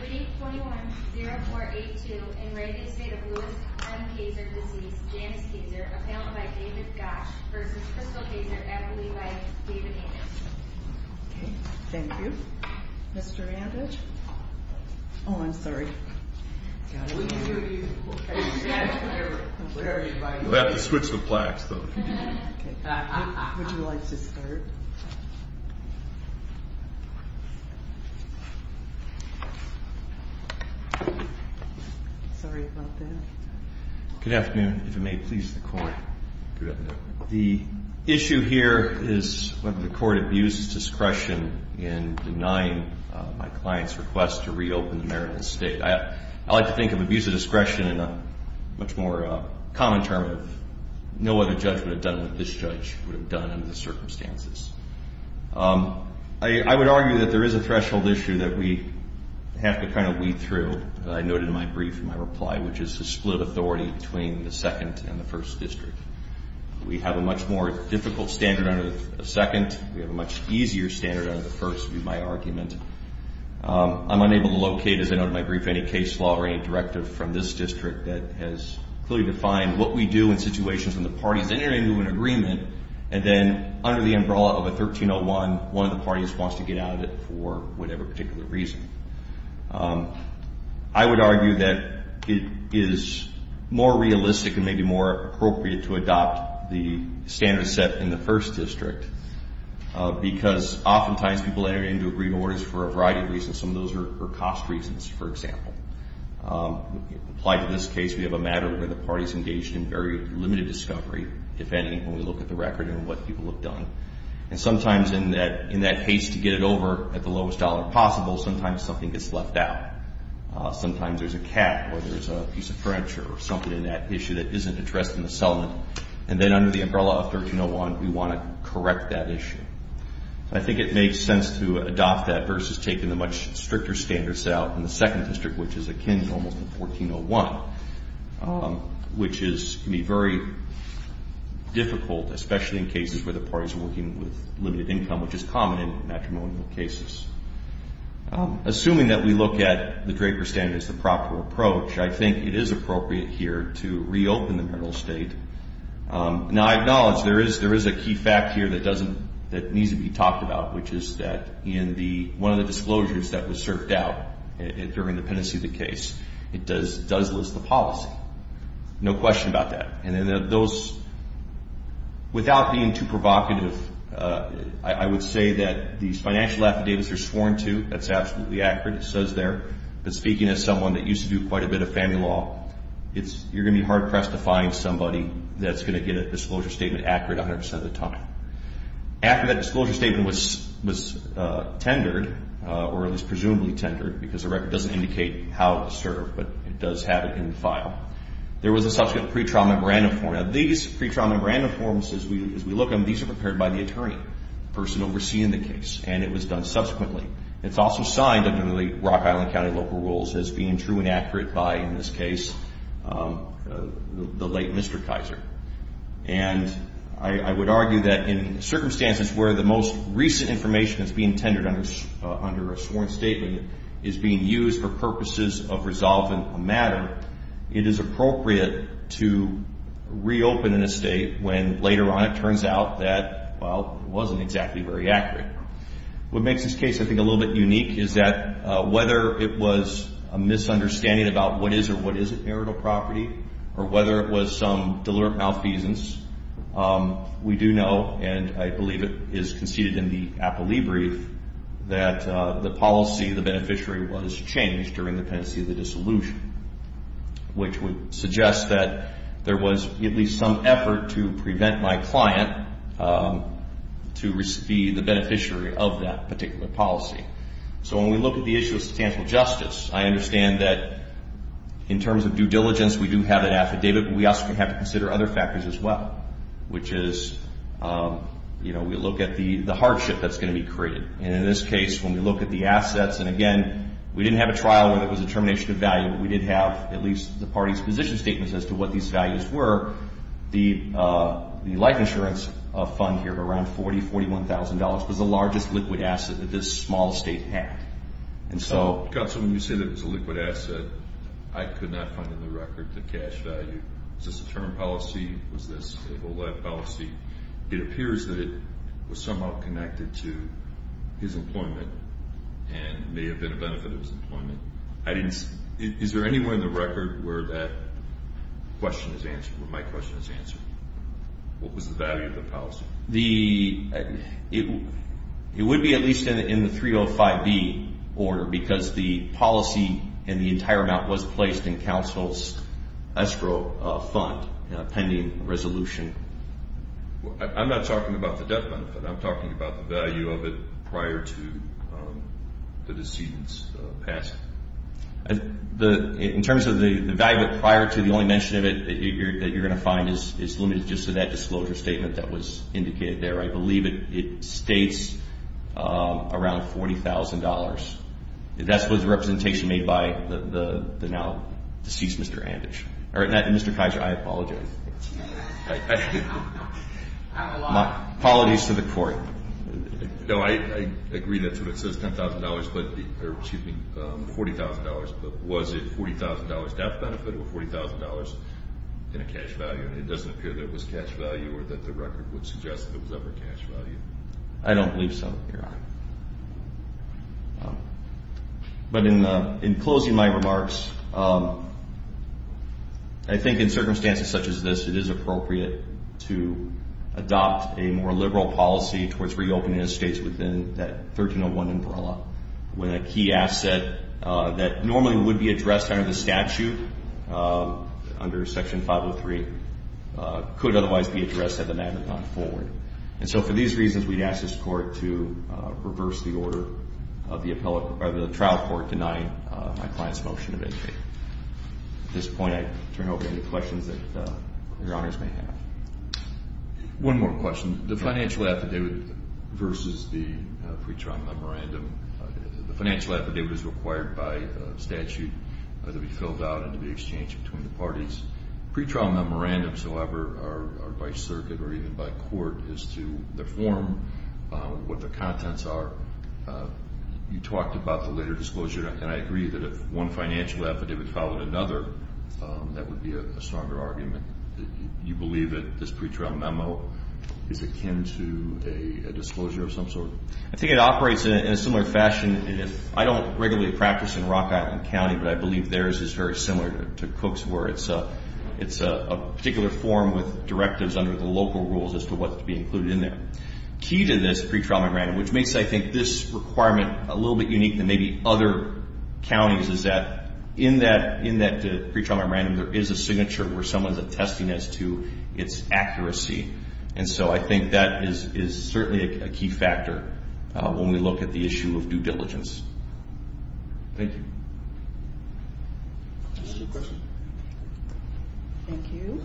Reading 410482, in reading state of Lewis M. Kaiser disease, Janus Kaiser, appellant by David Gosch, versus Crystal Kaiser, appellate by David Amish. Thank you. Mr. Amish? Oh, I'm sorry. We have to switch the plaques, though. Would you like to start? Sorry about that. Good afternoon. If it may please the Court. Good afternoon. The issue here is whether the Court abused discretion in denying my client's request to reopen the Maryland State. I like to think of abuse of discretion in a much more common term of no other judge would have done what this judge would have done under the circumstances. I would argue that there is a threshold issue that we have to kind of weed through. I noted in my brief in my reply, which is to split authority between the second and the first district. We have a much more difficult standard under the second. We have a much easier standard under the first, would be my argument. I'm unable to locate, as I noted in my brief, any case law or any directive from this district that has clearly defined what we do in situations when the parties enter into an agreement and then under the umbrella of a 1301, one of the parties wants to get out of it for whatever particular reason. I would argue that it is more realistic and maybe more appropriate to adopt the standard set in the first district because oftentimes people enter into agreed orders for a variety of reasons. Some of those are cost reasons, for example. Applied to this case, we have a matter where the parties engaged in very limited discovery, if any, when we look at the record and what people have done. And sometimes in that haste to get it over at the lowest dollar possible, sometimes something gets left out. Sometimes there's a cap or there's a piece of furniture or something in that issue that isn't addressed in the settlement. And then under the umbrella of 1301, we want to correct that issue. I think it makes sense to adopt that versus taking the much stricter standards out in the second district, which is akin to almost a 1401, which can be very difficult, especially in cases where the parties are working with limited income, which is common in matrimonial cases. Assuming that we look at the Draper standard as the proper approach, I think it is appropriate here to reopen the marital estate. Now, I acknowledge there is a key fact here that needs to be talked about, which is that in one of the disclosures that was surfed out during the pendency of the case, it does list the policy. No question about that. Without being too provocative, I would say that these financial affidavits are sworn to. That's absolutely accurate. It says there. But speaking as someone that used to do quite a bit of family law, you're going to be hard-pressed to find somebody that's going to get a disclosure statement accurate 100% of the time. After that disclosure statement was tendered, or at least presumably tendered, because the record doesn't indicate how it was served, but it does have it in the file, there was a subsequent pre-trial memorandum form. Now, these pre-trial memorandum forms, as we look them, these are prepared by the attorney, the person overseeing the case, and it was done subsequently. It's also signed under the Rock Island County local rules as being true and accurate by, in this case, the late Mr. Kaiser. And I would argue that in circumstances where the most recent information that's being tendered under a sworn statement is being used for purposes of resolving a matter, it is appropriate to reopen an estate when later on it turns out that, well, it wasn't exactly very accurate. What makes this case, I think, a little bit unique is that whether it was a misunderstanding about what is or what isn't marital property, or whether it was some deliberate malfeasance, we do know, and I believe it is conceded in the Appellee Brief, that the policy of the beneficiary was changed during the pendency of the dissolution, which would suggest that there was at least some effort to prevent my client to be the beneficiary of that particular policy. So when we look at the issue of statistical justice, I understand that in terms of due diligence, we do have an affidavit, but we also have to consider other factors as well, which is we look at the hardship that's going to be created. And in this case, when we look at the assets, and again, we didn't have a trial where there was a termination of value, but we did have at least the party's position statements as to what these values were. The life insurance fund here, around $40,000, $41,000, was the largest liquid asset that this small state had. So when you say that it was a liquid asset, I could not find in the record the cash value. Was this a term policy? Was this a whole lot of policy? It appears that it was somehow connected to his employment and may have been a benefit of his employment. Is there anywhere in the record where that question is answered, where my question is answered? What was the value of the policy? It would be at least in the 305B order because the policy and the entire amount was placed in counsel's escrow fund pending resolution. I'm not talking about the death benefit. I'm talking about the value of it prior to the decedent's passing. In terms of the value prior to the only mention of it that you're going to find, it's limited just to that disclosure statement that was indicated there. I believe it states around $40,000. That's what the representation made by the now deceased Mr. Anditch. Mr. Kaiser, I apologize. I'm alive. Apologies to the court. No, I agree that's what it says, $40,000, but was it $40,000 death benefit or $40,000 in a cash value? It doesn't appear that it was cash value or that the record would suggest that it was ever cash value. I don't believe so, Your Honor. But in closing my remarks, I think in circumstances such as this, it is appropriate to adopt a more liberal policy towards reopening estates within that 1301 umbrella when a key asset that normally would be addressed under the statute, under Section 503, could otherwise be addressed had the matter gone forward. And so for these reasons, we'd ask this Court to reverse the order of the trial court denying my client's motion to vacate. At this point, I turn it over to any questions that Your Honors may have. One more question. The financial affidavit versus the pretrial memorandum. The financial affidavit is required by statute to be filled out and to be exchanged between the parties. Pretrial memorandums, however, are by circuit or even by court as to the form, what the contents are. You talked about the later disclosure, and I agree that if one financial affidavit followed another, that would be a stronger argument. Do you believe that this pretrial memo is akin to a disclosure of some sort? I think it operates in a similar fashion. I don't regularly practice in Rock Island County, but I believe theirs is very similar to Cook's, where it's a particular form with directives under the local rules as to what's to be included in there. Key to this pretrial memorandum, which makes, I think, this requirement a little bit unique than maybe other counties, is that in that pretrial memorandum, there is a signature where someone's attesting as to its accuracy. And so I think that is certainly a key factor when we look at the issue of due diligence. Thank you. Any other questions? Thank you.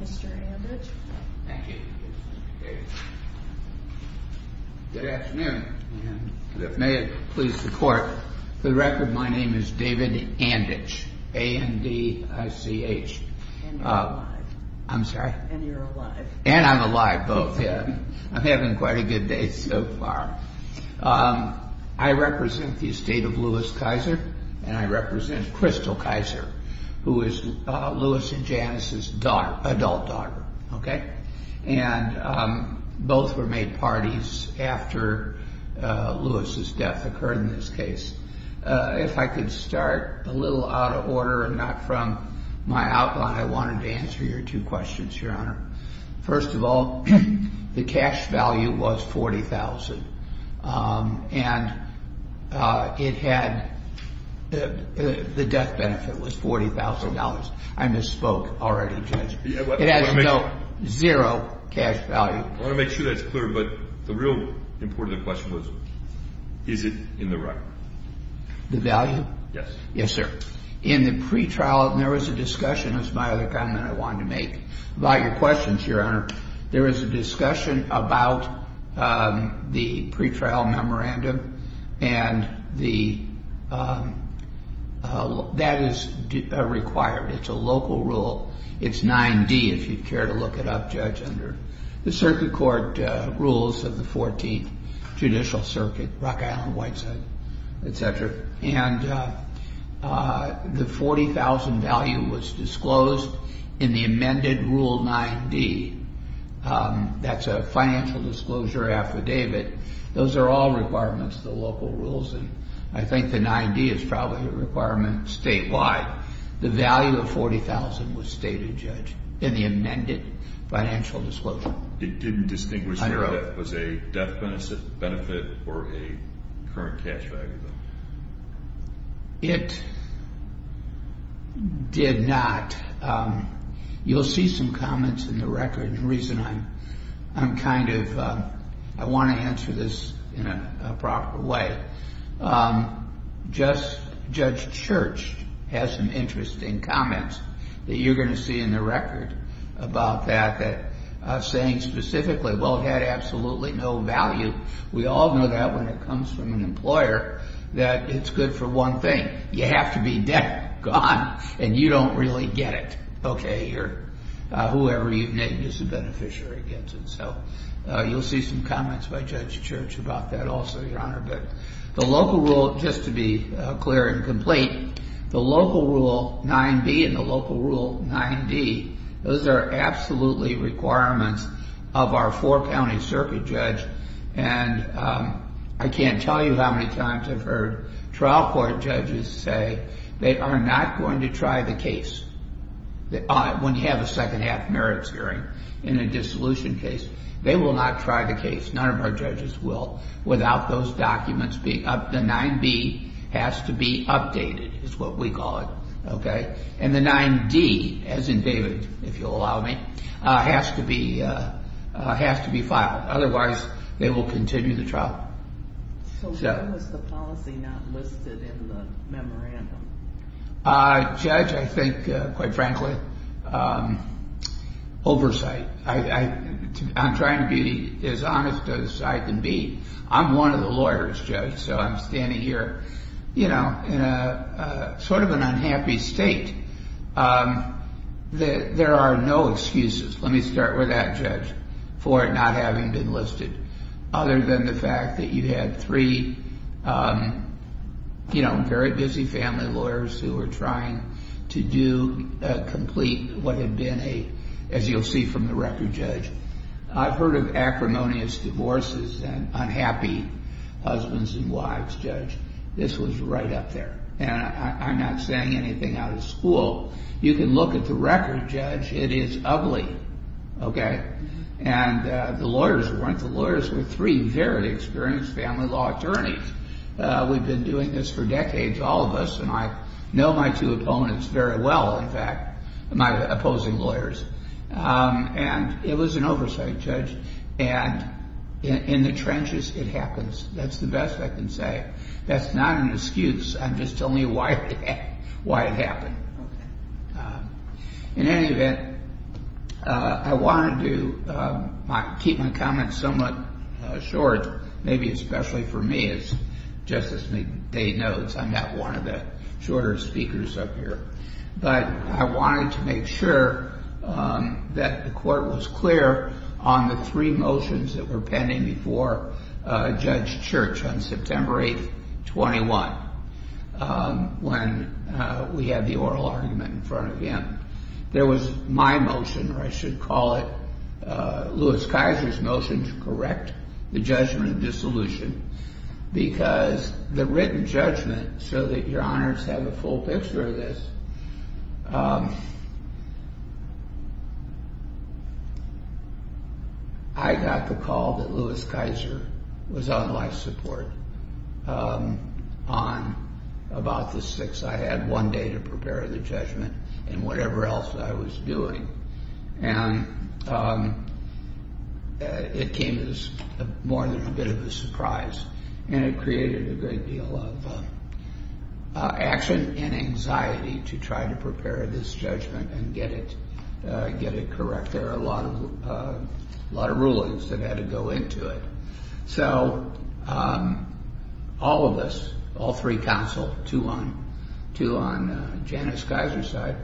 Mr. Andich. Thank you. Good afternoon. And if it may please the Court, for the record, my name is David Andich, A-N-D-I-C-H. And you're alive. I'm sorry? And you're alive. And I'm alive, both, yeah. I'm having quite a good day so far. I represent the estate of Louis Kaiser, and I represent Crystal Kaiser, who is Louis and Janice's daughter, adult daughter, okay? And both were made parties after Louis's death occurred in this case. If I could start a little out of order and not from my outline, I wanted to answer your two questions, Your Honor. First of all, the cash value was $40,000, and it had the death benefit was $40,000. I misspoke already, Judge. It has no zero cash value. I want to make sure that's clear, but the real important question was, is it in the record? The value? Yes. Yes, sir. In the pretrial, there was a discussion, it was my other comment I wanted to make, about your questions, Your Honor. There was a discussion about the pretrial memorandum, and that is required. It's a local rule. It's 9-D, if you'd care to look it up, Judge, under the circuit court rules of the 14th Judicial Circuit, Rock Island, Whiteside, et cetera. And the $40,000 value was disclosed in the amended Rule 9-D. That's a financial disclosure affidavit. Those are all requirements, the local rules, and I think the 9-D is probably a requirement statewide. The value of $40,000 was stated, Judge, in the amended financial disclosure. It didn't distinguish whether it was a death benefit or a current cash value, though? It did not. You'll see some comments in the record, and the reason I'm kind of, I want to answer this in a proper way. Judge Church has some interesting comments that you're going to see in the record about that, saying specifically, well, it had absolutely no value. We all know that when it comes from an employer, that it's good for one thing. You have to be dead, gone, and you don't really get it. Okay, whoever you've named is the beneficiary against it. So you'll see some comments by Judge Church about that also, Your Honor. But the local rule, just to be clear and complete, the local Rule 9-B and the local Rule 9-D, those are absolutely requirements of our four-county circuit judge, and I can't tell you how many times I've heard trial court judges say they are not going to try the case when you have a second-half merits hearing in a dissolution case. They will not try the case, none of our judges will, without those documents being up. The 9-B has to be updated, is what we call it. And the 9-D, as in David, if you'll allow me, has to be filed. Otherwise, they will continue the trial. So why was the policy not listed in the memorandum? Judge, I think, quite frankly, oversight. I'm trying to be as honest as I can be. I'm one of the lawyers, Judge, so I'm standing here in sort of an unhappy state. There are no excuses, let me start with that, Judge, for it not having been listed, other than the fact that you had three, you know, very busy family lawyers who were trying to do, complete what had been a, as you'll see from the record, Judge. I've heard of acrimonious divorces and unhappy husbands and wives, Judge. This was right up there, and I'm not saying anything out of school. You can look at the record, Judge, it is ugly, okay? And the lawyers weren't the lawyers. The lawyers were three very experienced family law attorneys. We've been doing this for decades, all of us, and I know my two opponents very well, in fact, my opposing lawyers, and it was an oversight, Judge, and in the trenches it happens. That's the best I can say. That's not an excuse. I'm just telling you why it happened. In any event, I wanted to keep my comments somewhat short, maybe especially for me as Justice Day notes, I'm not one of the shorter speakers up here, but I wanted to make sure that the court was clear on the three motions that were pending before Judge Church on September 8th, 21, when we had the oral argument in front of him. There was my motion, or I should call it Louis Kaiser's motion, to correct the judgment of dissolution because the written judgment, so that your honors have a full picture of this, I got the call that Louis Kaiser was on life support on about the 6th. I had one day to prepare the judgment and whatever else I was doing, and it came as more than a bit of a surprise, and it created a great deal of action and anxiety to try to prepare this judgment and get it correct. There were a lot of rulings that had to go into it. All of us, all three counsel, two on Janice Kaiser's side,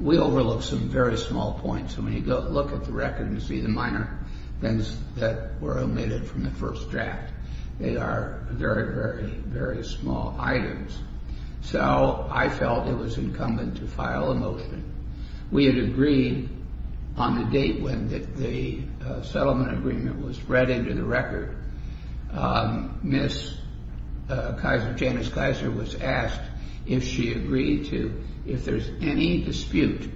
we overlooked some very small points. When you look at the record and see the minor things that were omitted from the first draft, they are very, very, very small items. I felt it was incumbent to file a motion. We had agreed on the date when the settlement agreement was read into the record. Janice Kaiser was asked if she agreed to, if there's any dispute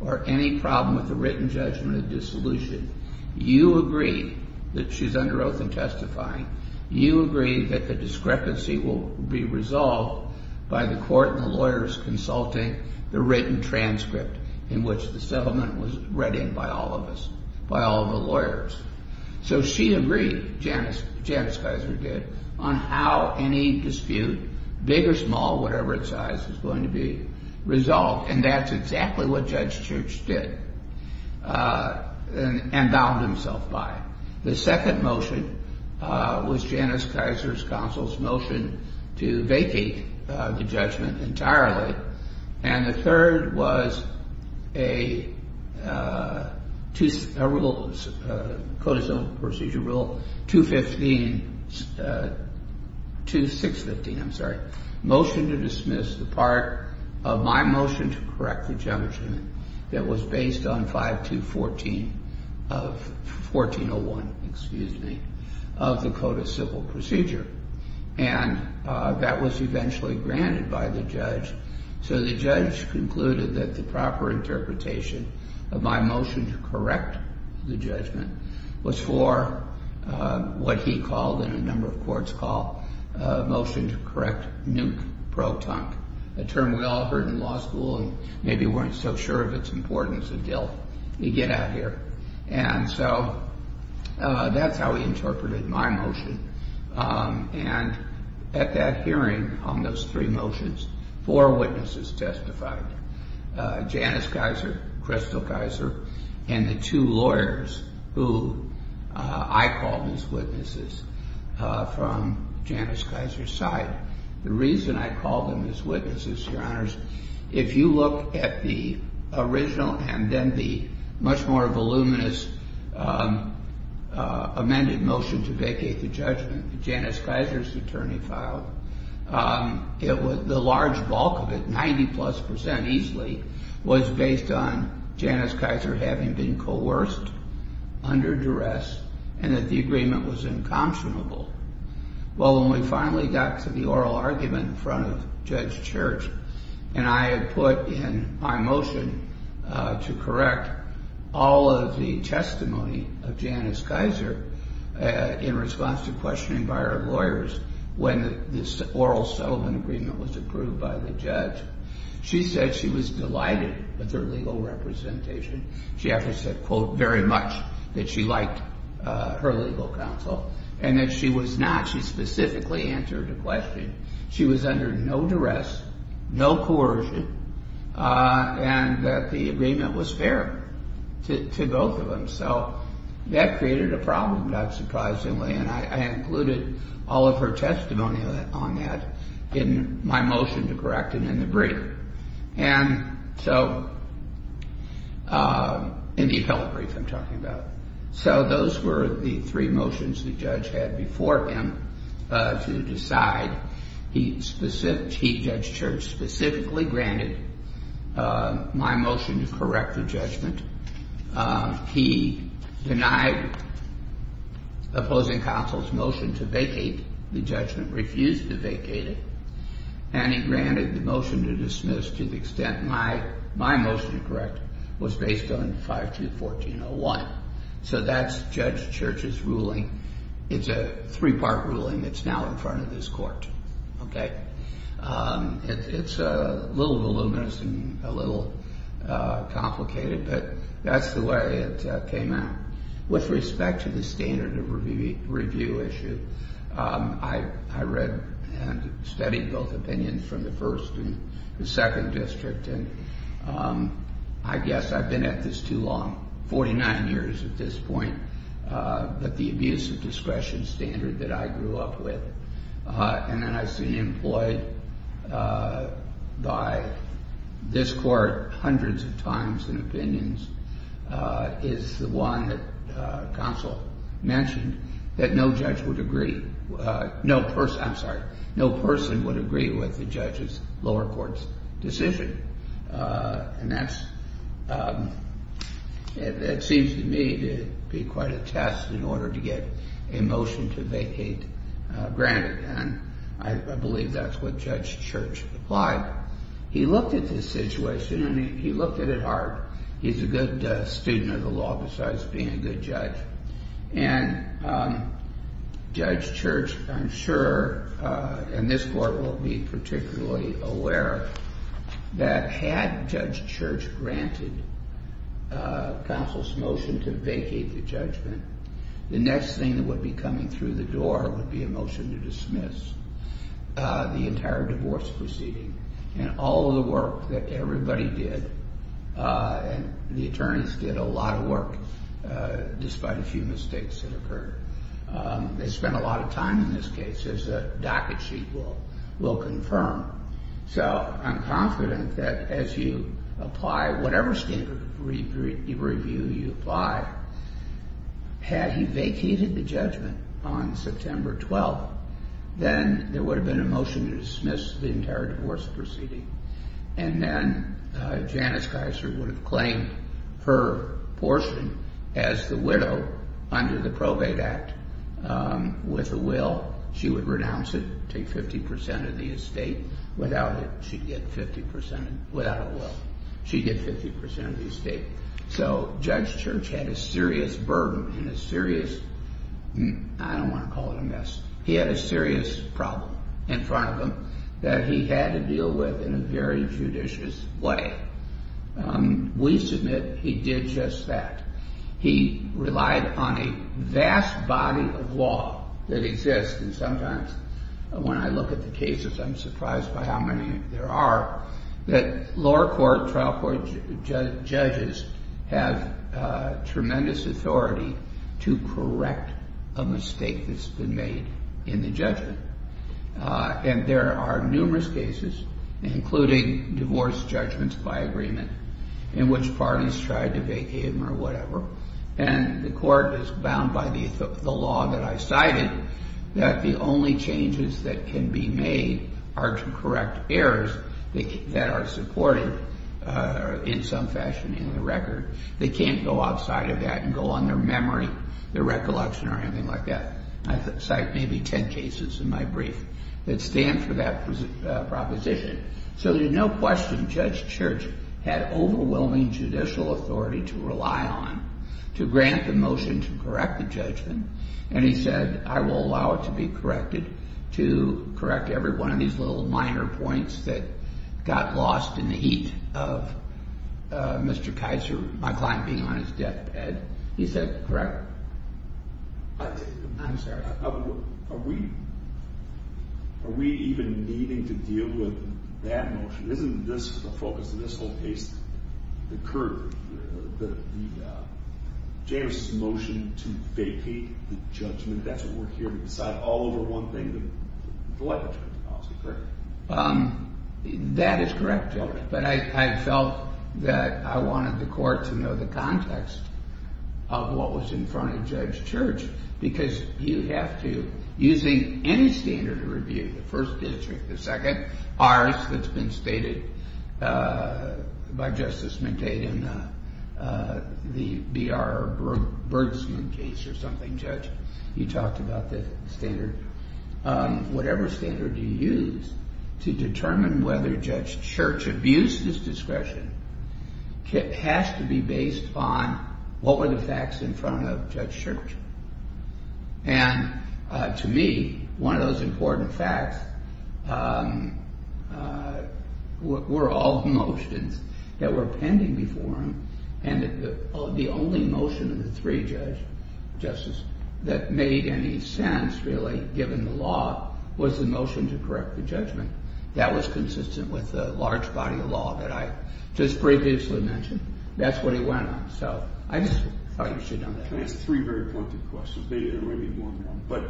or any problem with the written judgment of dissolution, you agree that she's under oath and testifying, you agree that the discrepancy will be resolved by the court and the lawyers consulting the written transcript in which the settlement was read in by all of us, by all of the lawyers. So she agreed, Janice Kaiser did, on how any dispute, big or small, whatever its size, is going to be resolved. And that's exactly what Judge Church did and bound himself by. The second motion was Janice Kaiser's counsel's motion to vacate the judgment entirely. And the third was a Code of Civil Procedure Rule 215, 2615, I'm sorry, motion to dismiss the part of my motion to correct the judgment that was based on 5214 of 1401, excuse me, of the Code of Civil Procedure. And that was eventually granted by the judge. So the judge concluded that the proper interpretation of my motion to correct the judgment was for what he called in a number of courts called motion to correct nuke pro-tunk, a term we all heard in law school and maybe weren't so sure of its importance until you get out here. And so that's how he interpreted my motion. And at that hearing on those three motions, four witnesses testified, Janice Kaiser, Crystal Kaiser, and the two lawyers who I called as witnesses from Janice Kaiser's side. The reason I called them as witnesses, Your Honors, if you look at the original and then the much more voluminous amended motion to vacate the judgment that Janice Kaiser's attorney filed, the large bulk of it, 90-plus percent easily, was based on Janice Kaiser having been coerced, under duress, and that the agreement was incompetent. Well, when we finally got to the oral argument in front of Judge Church and I had put in my motion to correct all of the testimony of Janice Kaiser in response to questioning by our lawyers when this oral settlement agreement was approved by the judge, she said she was delighted with her legal representation. She actually said, quote, very much that she liked her legal counsel. And that she was not. She specifically answered the question. She was under no duress, no coercion, and that the agreement was fair to both of them. So that created a problem, not surprisingly, and I included all of her testimony on that in my motion to correct it in the brief. And so in the appellate brief I'm talking about. So those were the three motions the judge had before him to decide. He, Judge Church, specifically granted my motion to correct the judgment. He denied opposing counsel's motion to vacate the judgment, refused to vacate it, and he granted the motion to dismiss to the extent my motion to correct was based on 5214.01. So that's Judge Church's ruling. It's a three-part ruling that's now in front of this court. Okay. It's a little voluminous and a little complicated, but that's the way it came out. With respect to the standard of review issue, I read and studied both opinions from the first and the second district, and I guess I've been at this too long, 49 years at this point, but the abuse of discretion standard that I grew up with and that I've seen employed by this court hundreds of times in opinions is the one that counsel mentioned, that no judge would agree, I'm sorry, no person would agree with the judge's lower court's decision. And that seems to me to be quite a test in order to get a motion to vacate granted, and I believe that's what Judge Church applied. He looked at the situation, and he looked at it hard. He's a good student of the law besides being a good judge. And Judge Church, I'm sure, and this court will be particularly aware, that had Judge Church granted counsel's motion to vacate the judgment, the next thing that would be coming through the door would be a motion to dismiss the entire divorce proceeding. And all of the work that everybody did, and the attorneys did a lot of work despite a few mistakes that occurred. They spent a lot of time in this case, as the docket sheet will confirm. So I'm confident that as you apply whatever standard review you apply, had he vacated the judgment on September 12th, then there would have been a motion to dismiss the entire divorce proceeding. And then Janice Geiser would have claimed her portion as the widow under the Probate Act with a will. She would renounce it, take 50% of the estate. Without it, she'd get 50% of the estate. So Judge Church had a serious burden and a serious, I don't want to call it a mess, he had a serious problem in front of him that he had to deal with in a very judicious way. We submit he did just that. He relied on a vast body of law that exists, and sometimes when I look at the cases I'm surprised by how many there are, that lower court, trial court judges have tremendous authority to correct a mistake that's been made in the judgment. And there are numerous cases, including divorce judgments by agreement, in which parties tried to vacate them or whatever, and the court is bound by the law that I cited, that the only changes that can be made are to correct errors. That are supported in some fashion in the record. They can't go outside of that and go on their memory, their recollection or anything like that. I cite maybe 10 cases in my brief that stand for that proposition. So there's no question Judge Church had overwhelming judicial authority to rely on to grant the motion to correct the judgment. And he said, I will allow it to be corrected, to correct every one of these little minor points that got lost in the heat of Mr. Kaiser, my client being on his deathbed. He said, correct? I'm sorry. Are we even needing to deal with that motion? Isn't this the focus of this whole case? The current, the JMRC's motion to vacate the judgment, that's what we're hearing all over one thing, the light switch policy, correct? That is correct, Judge. But I felt that I wanted the court to know the context of what was in front of Judge Church. Because you have to, using any standard of review, the first district, the second, ours that's been stated by Justice McDade in the B.R. Bergsman case or something, Judge. You talked about the standard. Whatever standard you use to determine whether Judge Church abused his discretion has to be based on what were the facts in front of Judge Church. And to me, one of those important facts were all the motions that were pending before him. And the only motion of the three judges that made any sense, really, given the law, was the motion to correct the judgment. That was consistent with the large body of law that I just previously mentioned. That's what he went on. So I just thought you should know that. I'm going to ask three very pointed questions. Maybe one more. But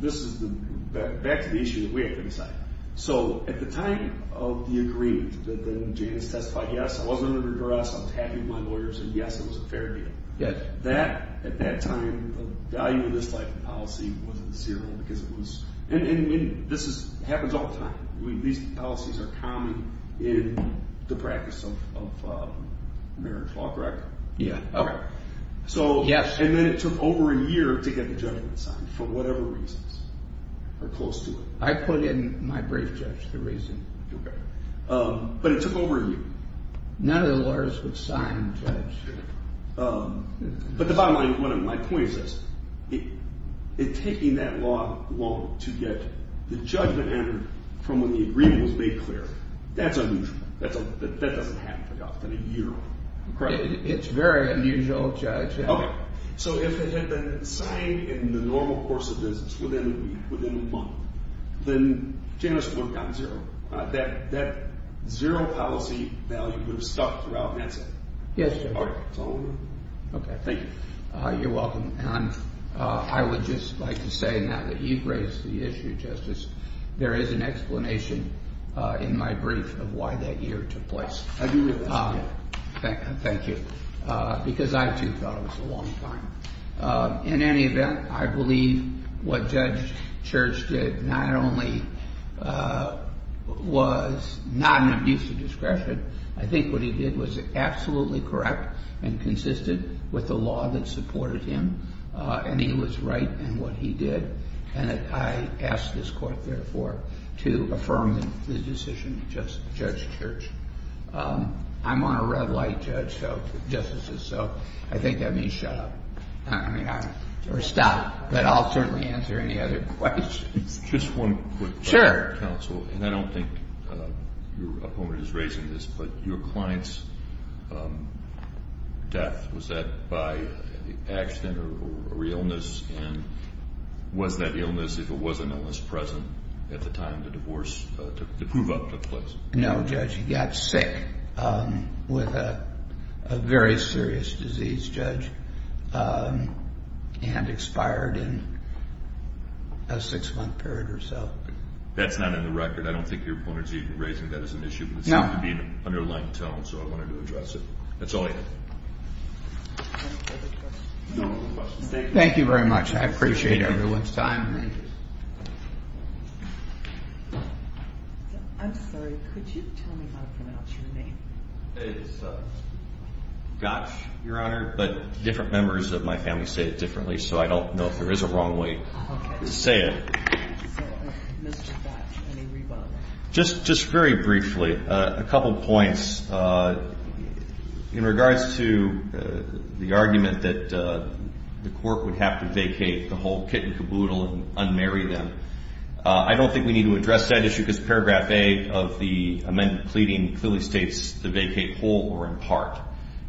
this is back to the issue that we have to decide. So at the time of the agreement that then Janice testified, yes, I wasn't under duress, I was happy with my lawyers, and yes, it was a fair deal. At that time, the value of this life policy was at zero because it was – and this happens all the time. These policies are common in the practice of American law, correct? Yeah. Okay. So – Yes. And then it took over a year to get the judgment signed for whatever reasons are close to it. I put in my brief, Judge, the reason. Okay. But it took over a year. None of the lawyers would sign, Judge. But the bottom line, my point is this. It taking that long to get the judgment entered from when the agreement was made clear, that's unusual. That doesn't happen very often, a year. Correct. It's very unusual, Judge. Okay. So if it had been signed in the normal course of business, within a week, within a month, then Janice would have gotten zero. That zero policy value would have stuck throughout NASA. Yes, Judge. All right. That's all I'm going to do. Okay. Thank you. You're welcome. And I would just like to say now that you've raised the issue, Justice, there is an explanation in my brief of why that year took place. I do realize that. Thank you. Because I, too, thought it was a long time. In any event, I believe what Judge Church did not only was not an abuse of discretion. I think what he did was absolutely correct and consisted with the law that supported him, and he was right in what he did, and I ask this Court, therefore, to affirm the decision of Judge Church. I'm on a red light, Justice, so I think that means shut up or stop, but I'll certainly answer any other questions. Just one quick question, Counsel. Sure. And I don't think your opponent is raising this, but your client's death, was that by accident or illness, and was that illness, if it was an illness, present at the time the divorce to prove up took place? No, Judge. He got sick with a very serious disease, Judge, and expired in a six-month period or so. That's not in the record. I don't think your opponent is even raising that as an issue, but it seemed to be an underlying tone, so I wanted to address it. That's all I have. Thank you very much. I appreciate everyone's time. I'm sorry, could you tell me how to pronounce your name? It's Gotch, Your Honor, but different members of my family say it differently, so I don't know if there is a wrong way to say it. Okay. So, Mr. Gotch, any rebuttal? Just very briefly, a couple points. In regards to the argument that the Court would have to vacate the whole and unmarry them, I don't think we need to address that issue because Paragraph A of the amendment pleading clearly states to vacate whole or in part,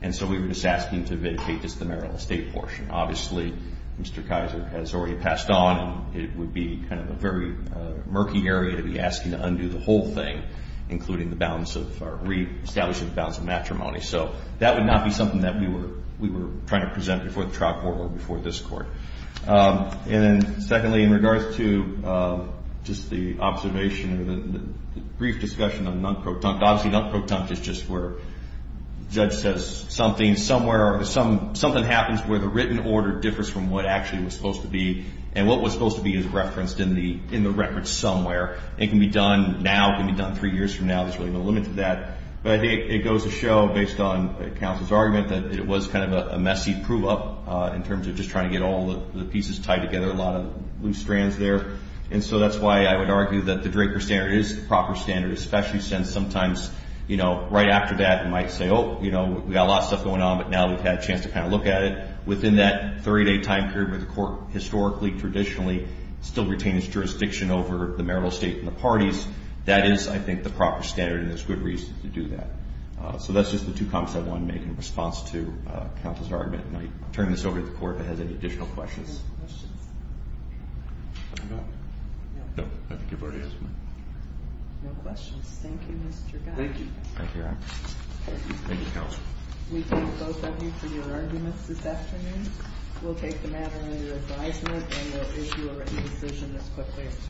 and so we were just asking to vacate just the marital estate portion. Obviously, Mr. Kaiser has already passed on, and it would be kind of a very murky area to be asking to undo the whole thing, including the balance of reestablishing the balance of matrimony. So that would not be something that we were trying to present before the trial court or before this Court. And then, secondly, in regards to just the observation or the brief discussion of non-protunct. Obviously, non-protunct is just where the judge says something, somewhere or something happens where the written order differs from what actually was supposed to be, and what was supposed to be is referenced in the record somewhere. It can be done now. It can be done three years from now. There's really no limit to that. But it goes to show, based on counsel's argument, that it was kind of a messy prove-up in terms of just trying to get all the pieces tied together, a lot of loose strands there. And so that's why I would argue that the Draper standard is the proper standard, especially since sometimes, you know, right after that, we might say, oh, you know, we've got a lot of stuff going on, but now we've had a chance to kind of look at it. Within that 30-day time period where the Court historically, traditionally, still retains jurisdiction over the marital estate and the parties, that is, I think, the proper standard, and there's good reason to do that. So that's just the two comments I wanted to make in response to counsel's argument. And I'll turn this over to the Court if it has any additional questions. Any questions? No. No. I think you've already asked mine. No questions. Thank you, Mr. Guy. Thank you. Thank you. Thank you, counsel. We thank both of you for your arguments this afternoon. We'll take the matter under advisement, and we'll issue a written decision as quickly as possible.